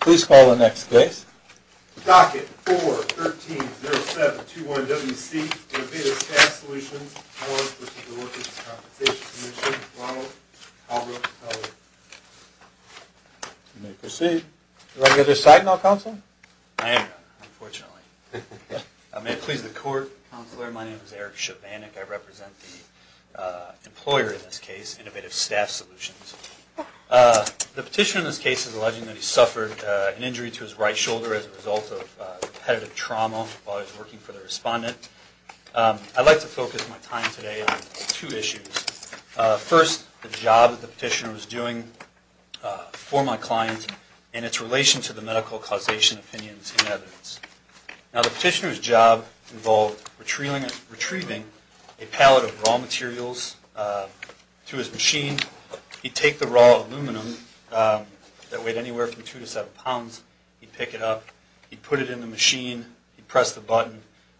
Please call the next case. Docket 4-13-07-21-WC Innovative Staff Solutions v. Workers' Compensation Commission, Ronald Caldwell. You may proceed. Do I get a sign now, Counselor? I am, unfortunately. May it please the Court, Counselor? My name is Eric Chobanek. I represent the employer in this case, Innovative Staff Solutions. The petitioner in this case is alleging that he suffered an injury to his right shoulder as a result of repetitive trauma while he was working for the respondent. I'd like to focus my time today on two issues. First, the job that the petitioner was doing for my client and its relation to the medical causation opinions and evidence. Now, the petitioner's job involved retrieving a pallet of raw materials to his machine. He'd take the raw aluminum that weighed anywhere from 2 to 7 pounds, he'd pick it up, he'd put it in the machine, he'd press the button,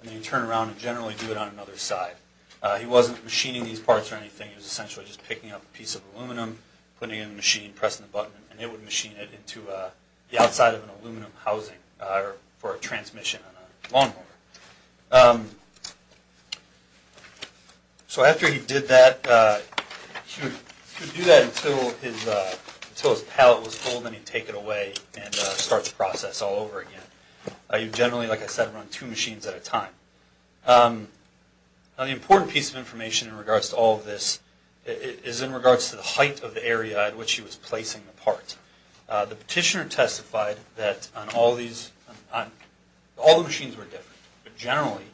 and then he'd turn around and generally do it on another side. He wasn't machining these parts or anything. He was essentially just picking up a piece of aluminum, putting it in the machine, pressing the button, and it would machine it into the outside of an aluminum housing for a transmission on a lawnmower. So after he did that, he would do that until his pallet was full, then he'd take it away and start the process all over again. He would generally, like I said, run two machines at a time. Now, the important piece of information in regards to all of this is in regards to the height of the area at which he was placing the part. The petitioner testified that all the machines were different, but generally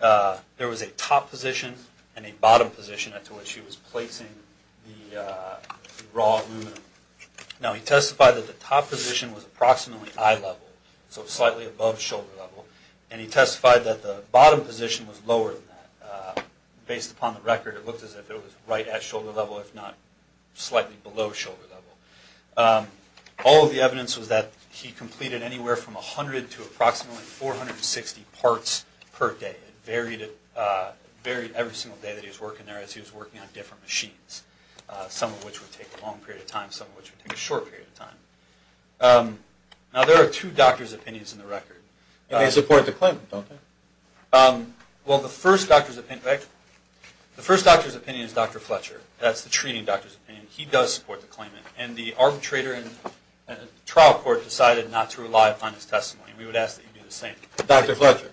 there was a top position and a bottom position at which he was placing the raw aluminum. Now, he testified that the top position was approximately eye level, so slightly above shoulder level, and he testified that the bottom position was lower than that. Based upon the record, it looked as if it was right at shoulder level, if not slightly below shoulder level. All of the evidence was that he completed anywhere from 100 to approximately 460 parts per day. It varied every single day that he was working there as he was working on different machines, some of which would take a long period of time, some of which would take a short period of time. Now, there are two doctor's opinions in the record. They support the claim, don't they? Well, the first doctor's opinion is Dr. Fletcher. That's the treating doctor's opinion. He does support the claim, and the arbitrator and the trial court decided not to rely upon his testimony. We would ask that you do the same. Dr. Fletcher.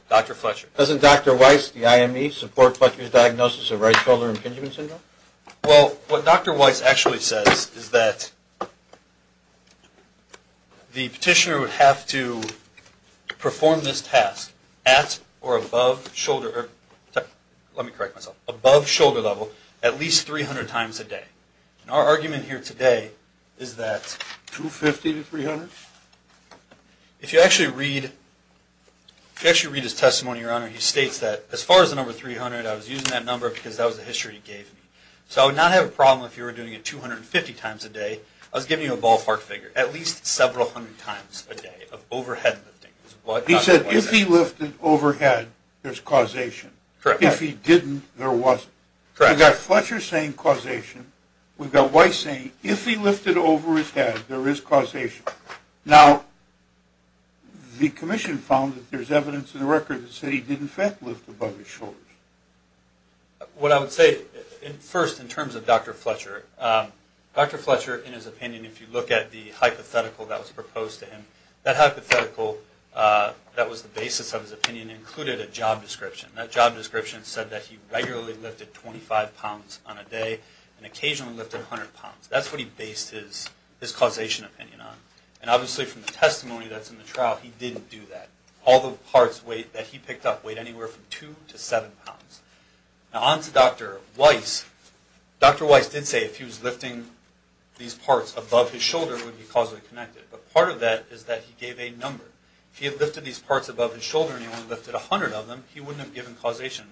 Doesn't Dr. Weiss, the IME, support Fletcher's diagnosis of right shoulder impingement syndrome? Well, what Dr. Weiss actually says is that the petitioner would have to perform this task at or above shoulder level, at least 300 times a day. Our argument here today is that... 250 to 300? If you actually read his testimony, Your Honor, he states that as far as the number 300, I was using that number because that was the history he gave me. So I would not have a problem if you were doing it 250 times a day. I was giving you a ballpark figure, at least several hundred times a day of overhead lifting. He said if he lifted overhead, there's causation. Correct. If he didn't, there wasn't. Correct. We've got Fletcher saying causation. We've got Weiss saying if he lifted over his head, there is causation. Now, the Commission found that there's evidence in the record that said he did in fact lift above his shoulders. What I would say first in terms of Dr. Fletcher, Dr. Fletcher, in his opinion, if you look at the hypothetical that was proposed to him, that hypothetical that was the basis of his opinion included a job description. That job description said that he regularly lifted 25 pounds on a day and occasionally lifted 100 pounds. That's what he based his causation opinion on. And obviously from the testimony that's in the trial, he didn't do that. All the parts that he picked up weighed anywhere from 2 to 7 pounds. Now, on to Dr. Weiss. Dr. Weiss did say if he was lifting these parts above his shoulder, it would be causally connected. But part of that is that he gave a number. If he had lifted these parts above his shoulder and he only lifted 100 of them, he wouldn't have given causation.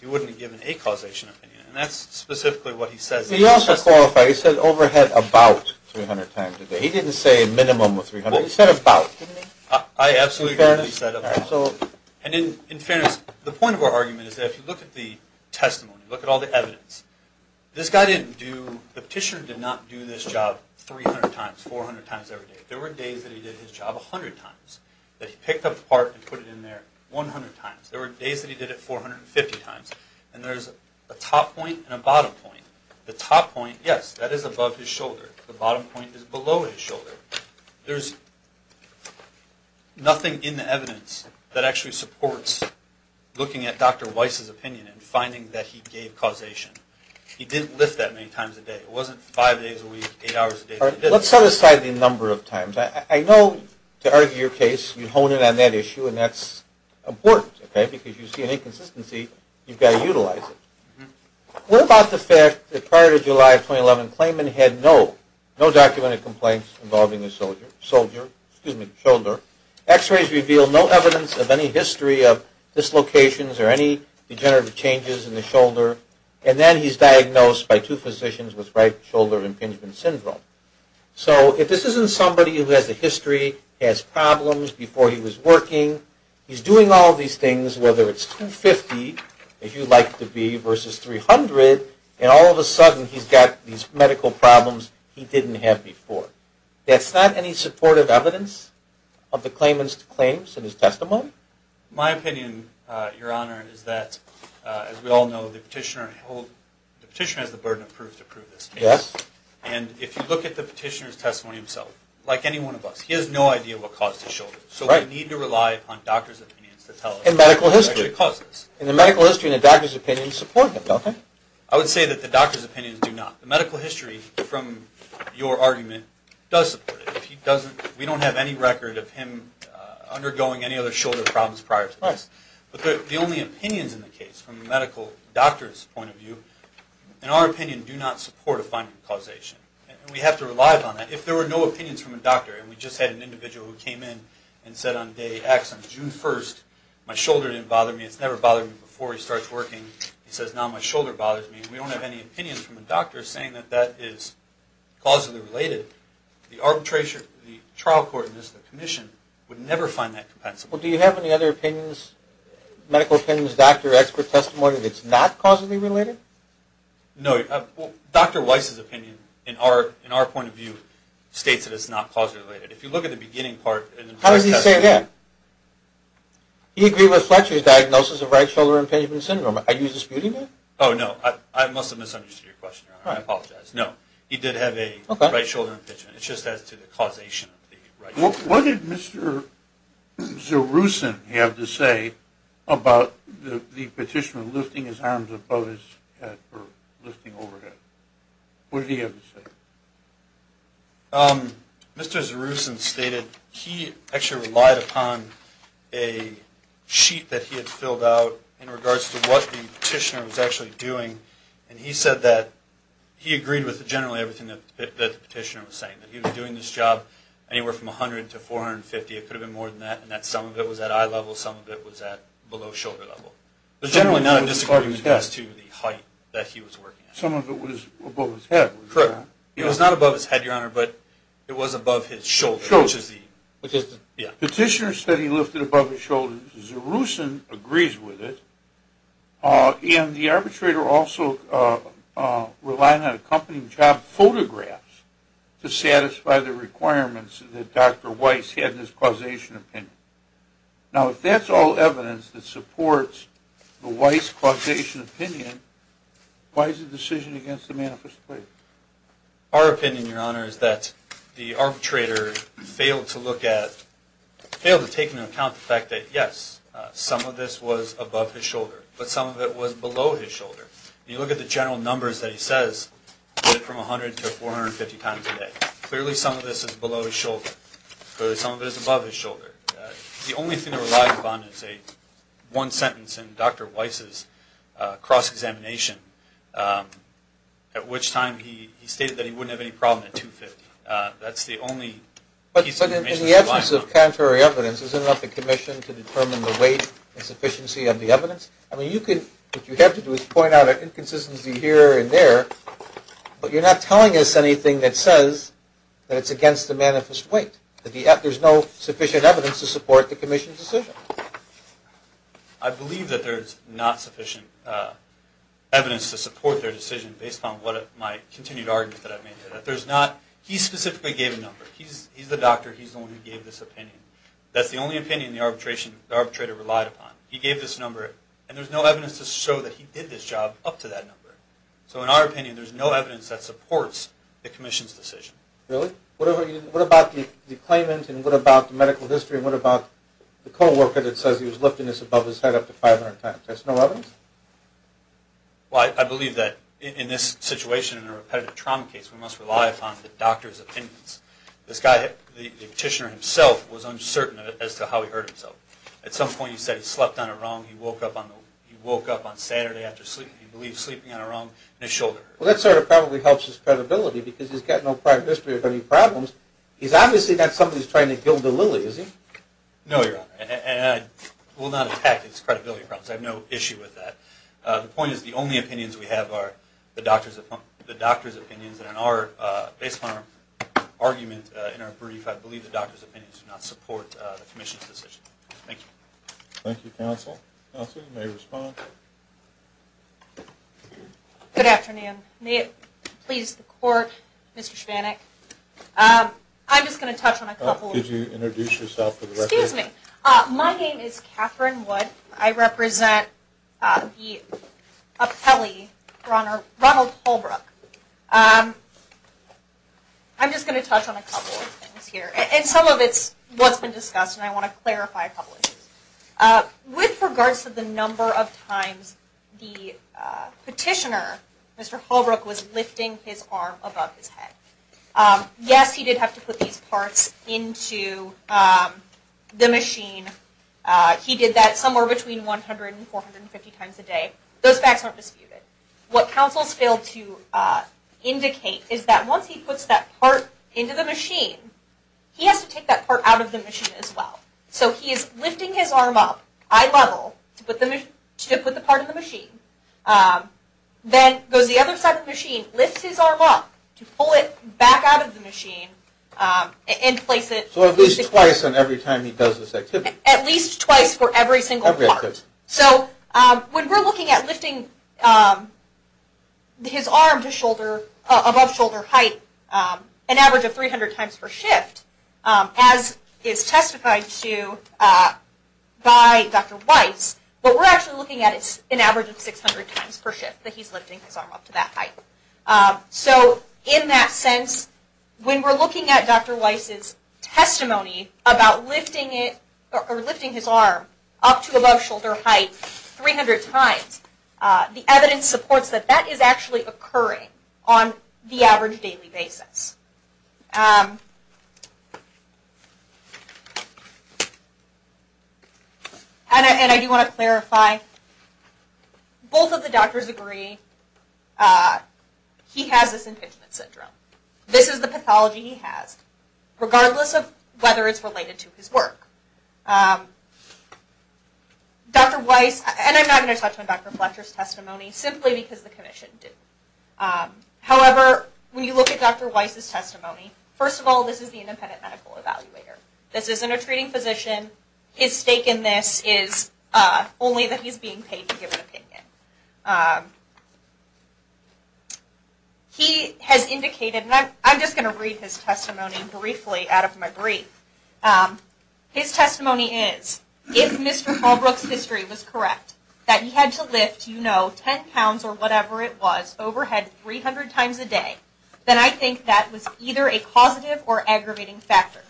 He wouldn't have given a causation opinion. And that's specifically what he says in his testimony. He also qualified. He said overhead about 300 times a day. He didn't say a minimum of 300. He said about. I absolutely believe he said about. And in fairness, the point of our argument is that if you look at the testimony, look at all the evidence, this guy didn't do – the petitioner did not do this job 300 times, 400 times every day. There were days that he did his job 100 times, that he picked up the part and put it in there 100 times. There were days that he did it 450 times. And there's a top point and a bottom point. The top point, yes, that is above his shoulder. The bottom point is below his shoulder. There's nothing in the evidence that actually supports looking at Dr. Weiss' opinion and finding that he gave causation. He didn't lift that many times a day. It wasn't five days a week, eight hours a day. Let's set aside the number of times. I know to argue your case, you hone in on that issue, and that's important. Because if you see an inconsistency, you've got to utilize it. What about the fact that prior to July of 2011, Clayman had no documented complaints involving his shoulder. X-rays reveal no evidence of any history of dislocations or any degenerative changes in the shoulder. And then he's diagnosed by two physicians with right shoulder impingement syndrome. So if this isn't somebody who has a history, has problems before he was working, he's doing all these things, whether it's 250, if you'd like it to be, versus 300, and all of a sudden he's got these medical problems he didn't have before. That's not any supportive evidence of the Clayman's claims in his testimony? My opinion, Your Honor, is that, as we all know, the petitioner has the burden of proof to prove this case. And if you look at the petitioner's testimony himself, like any one of us, he has no idea what caused his shoulder. So we need to rely upon doctors' opinions to tell us what exactly caused this. In the medical history, the doctors' opinions support him, don't they? I would say that the doctors' opinions do not. The medical history, from your argument, does support it. We don't have any record of him undergoing any other shoulder problems prior to this. But the only opinions in the case, from the medical doctor's point of view, in our opinion, do not support a finding of causation. And we have to rely upon that. If there were no opinions from a doctor, and we just had an individual who came in and said on day X, on June 1st, my shoulder didn't bother me, it's never bothered me before he starts working, he says, now my shoulder bothers me, and we don't have any opinions from a doctor saying that that is causally related, the arbitration, the trial court, and this is the commission, would never find that compensable. Well, do you have any other opinions, medical opinions, doctor expert testimony, that's not causally related? No. Dr. Weiss's opinion, in our point of view, states that it's not causally related. If you look at the beginning part. How does he say that? He agreed with Fletcher's diagnosis of right shoulder impingement syndrome. Are you disputing that? Oh, no. I must have misunderstood your question. I apologize. He did have a right shoulder impingement. It's just as to the causation of the right shoulder. What did Mr. Zeruson have to say about the petitioner lifting his arms above his head or lifting overhead? What did he have to say? Mr. Zeruson stated he actually relied upon a sheet that he had filled out in regards to what the petitioner was actually doing, and he said that he agreed with generally everything that the petitioner was saying. That he was doing this job anywhere from 100 to 450, it could have been more than that, and that some of it was at eye level, some of it was at below shoulder level. But generally none of it disagreed with as to the height that he was working at. Some of it was above his head, was it not? Correct. It was not above his head, Your Honor, but it was above his shoulder. Petitioner said he lifted above his shoulder. Zeruson agrees with it. And the arbitrator also relied on accompanying job photographs to satisfy the requirements that Dr. Weiss had in his causation opinion. Now if that's all evidence that supports the Weiss causation opinion, why is the decision against the manifest plea? Our opinion, Your Honor, is that the arbitrator failed to look at, failed to take into account the fact that yes, some of this was above his shoulder, but some of it was below his shoulder. If you look at the general numbers that he says, from 100 to 450 times a day, clearly some of this is below his shoulder, clearly some of it is above his shoulder. The only thing to rely upon is one sentence in Dr. Weiss's cross-examination, at which time he stated that he wouldn't have any problem at 250. That's the only piece of information to rely on. But in the absence of contrary evidence, isn't it up to commission to determine the weight and sufficiency of the evidence? I mean, what you have to do is point out an inconsistency here and there, but you're not telling us anything that says that it's against the manifest weight, that there's no sufficient evidence to support the commission's decision. I believe that there's not sufficient evidence to support their decision based on my continued argument that I've made here. He specifically gave a number. He's the doctor. He's the one who gave this opinion. That's the only opinion the arbitrator relied upon. He gave this number, and there's no evidence to show that he did this job up to that number. So in our opinion, there's no evidence that supports the commission's decision. Really? What about the claimant and what about the medical history and what about the co-worker that says he was lifting this above his head up to 500 times? There's no evidence? Well, I believe that in this situation, in a repetitive trauma case, we must rely upon the doctor's opinions. This guy, the petitioner himself, was uncertain as to how he hurt himself. At some point he said he slept on a rung, he woke up on Saturday after sleeping, he believed sleeping on a rung, and his shoulder hurt. Well, that sort of probably helps his credibility because he's got no prior history of any problems. He's obviously not somebody who's trying to gild a lily, is he? No, Your Honor, and I will not attack his credibility. I have no issue with that. The point is the only opinions we have are the doctor's opinions, and based on our argument in our brief, I believe the doctor's opinions do not support the commission's decision. Thank you. Thank you, counsel. Counsel, you may respond. Good afternoon. May it please the Court, Mr. Spanak. I'm just going to touch on a couple of things. Could you introduce yourself for the record? Excuse me. My name is Katherine Wood. I represent the appellee, Ronald Holbrook. I'm just going to touch on a couple of things here, and some of it's what's been discussed, and I want to clarify a couple of things. With regards to the number of times the petitioner, Mr. Holbrook, was lifting his arm above his head, yes, he did have to put these parts into the machine. He did that somewhere between 100 and 450 times a day. Those facts aren't disputed. What counsel has failed to indicate is that once he puts that part into the machine, he has to take that part out of the machine as well. So he is lifting his arm up, eye level, to put the part in the machine. Then goes the other side of the machine, lifts his arm up to pull it back out of the machine and place it. So at least twice on every time he does this activity. At least twice for every single part. So when we're looking at lifting his arm to shoulder, above shoulder height, an average of 300 times per shift, as is testified to by Dr. Weiss, what we're actually looking at is an average of 600 times per shift that he's lifting his arm up to that height. So in that sense, when we're looking at Dr. Weiss' testimony about lifting his arm up to above shoulder height 300 times, the evidence supports that that is actually occurring on the average daily basis. And I do want to clarify, both of the doctors agree he has this impingement syndrome. This is the pathology he has, regardless of whether it's related to his work. Dr. Weiss, and I'm not going to touch on Dr. Fletcher's testimony, simply because the commission didn't. However, when you look at Dr. Weiss' testimony, first of all, this is the independent medical evaluator. This isn't a treating physician. His stake in this is only that he's being paid to give an opinion. He has indicated, and I'm just going to read his testimony briefly out of my brief. His testimony is, if Mr. Hallbrook's history was correct, that he had to lift, you know, 10 pounds or whatever it was, overhead 300 times a day, then I think that was either a causative or aggravating factor.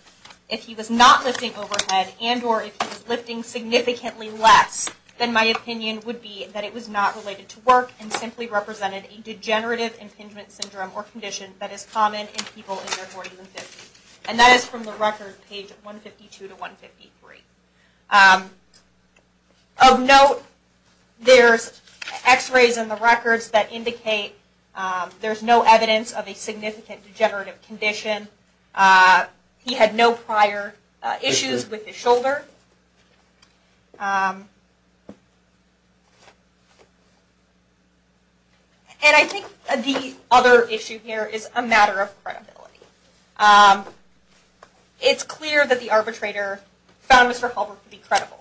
If he was not lifting overhead, and or if he was lifting significantly less, then my opinion would be that it was not related to work and simply represented a degenerative impingement syndrome or condition that is common in people in their 40s and 50s. And that is from the record, page 152 to 153. Of note, there's x-rays in the records that indicate there's no evidence of a significant degenerative condition. He had no prior issues with his shoulder. And I think the other issue here is a matter of credibility. It's clear that the arbitrator found Mr. Hallbrook to be credible.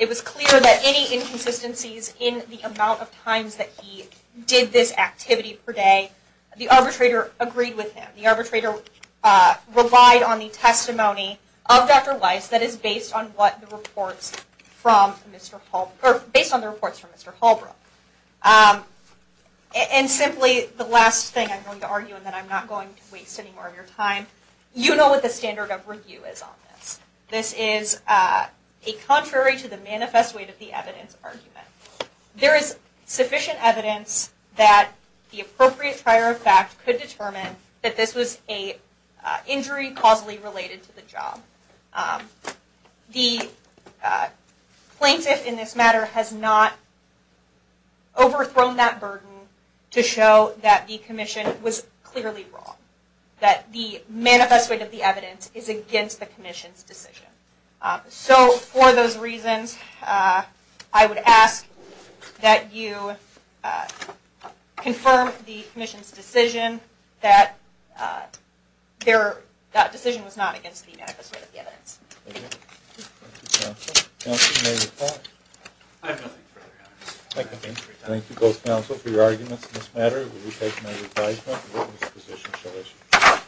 It was clear that any inconsistencies in the amount of times that he did this activity per day, the arbitrator agreed with him. The arbitrator relied on the testimony of Dr. Weiss that is based on what the reports from Mr. Hall, or based on the reports from Mr. Hallbrook. And simply, the last thing I'm going to argue, and then I'm not going to waste any more of your time, you know what the standard of review is on this. This is a contrary to the manifest way to the evidence argument. There is sufficient evidence that the appropriate prior fact could determine that this was an injury causally related to the job. The plaintiff in this matter has not overthrown that burden to show that the commission was clearly wrong. That the manifest way to the evidence is against the commission's decision. So for those reasons, I would ask that you confirm the commission's decision that that decision was not against the manifest way to the evidence. Thank you. Thank you, counsel. Counsel, you may reply. I have nothing further to add. Thank you. Thank you both, counsel, for your arguments in this matter. We'll be taking an advisement. The witness position shall issue.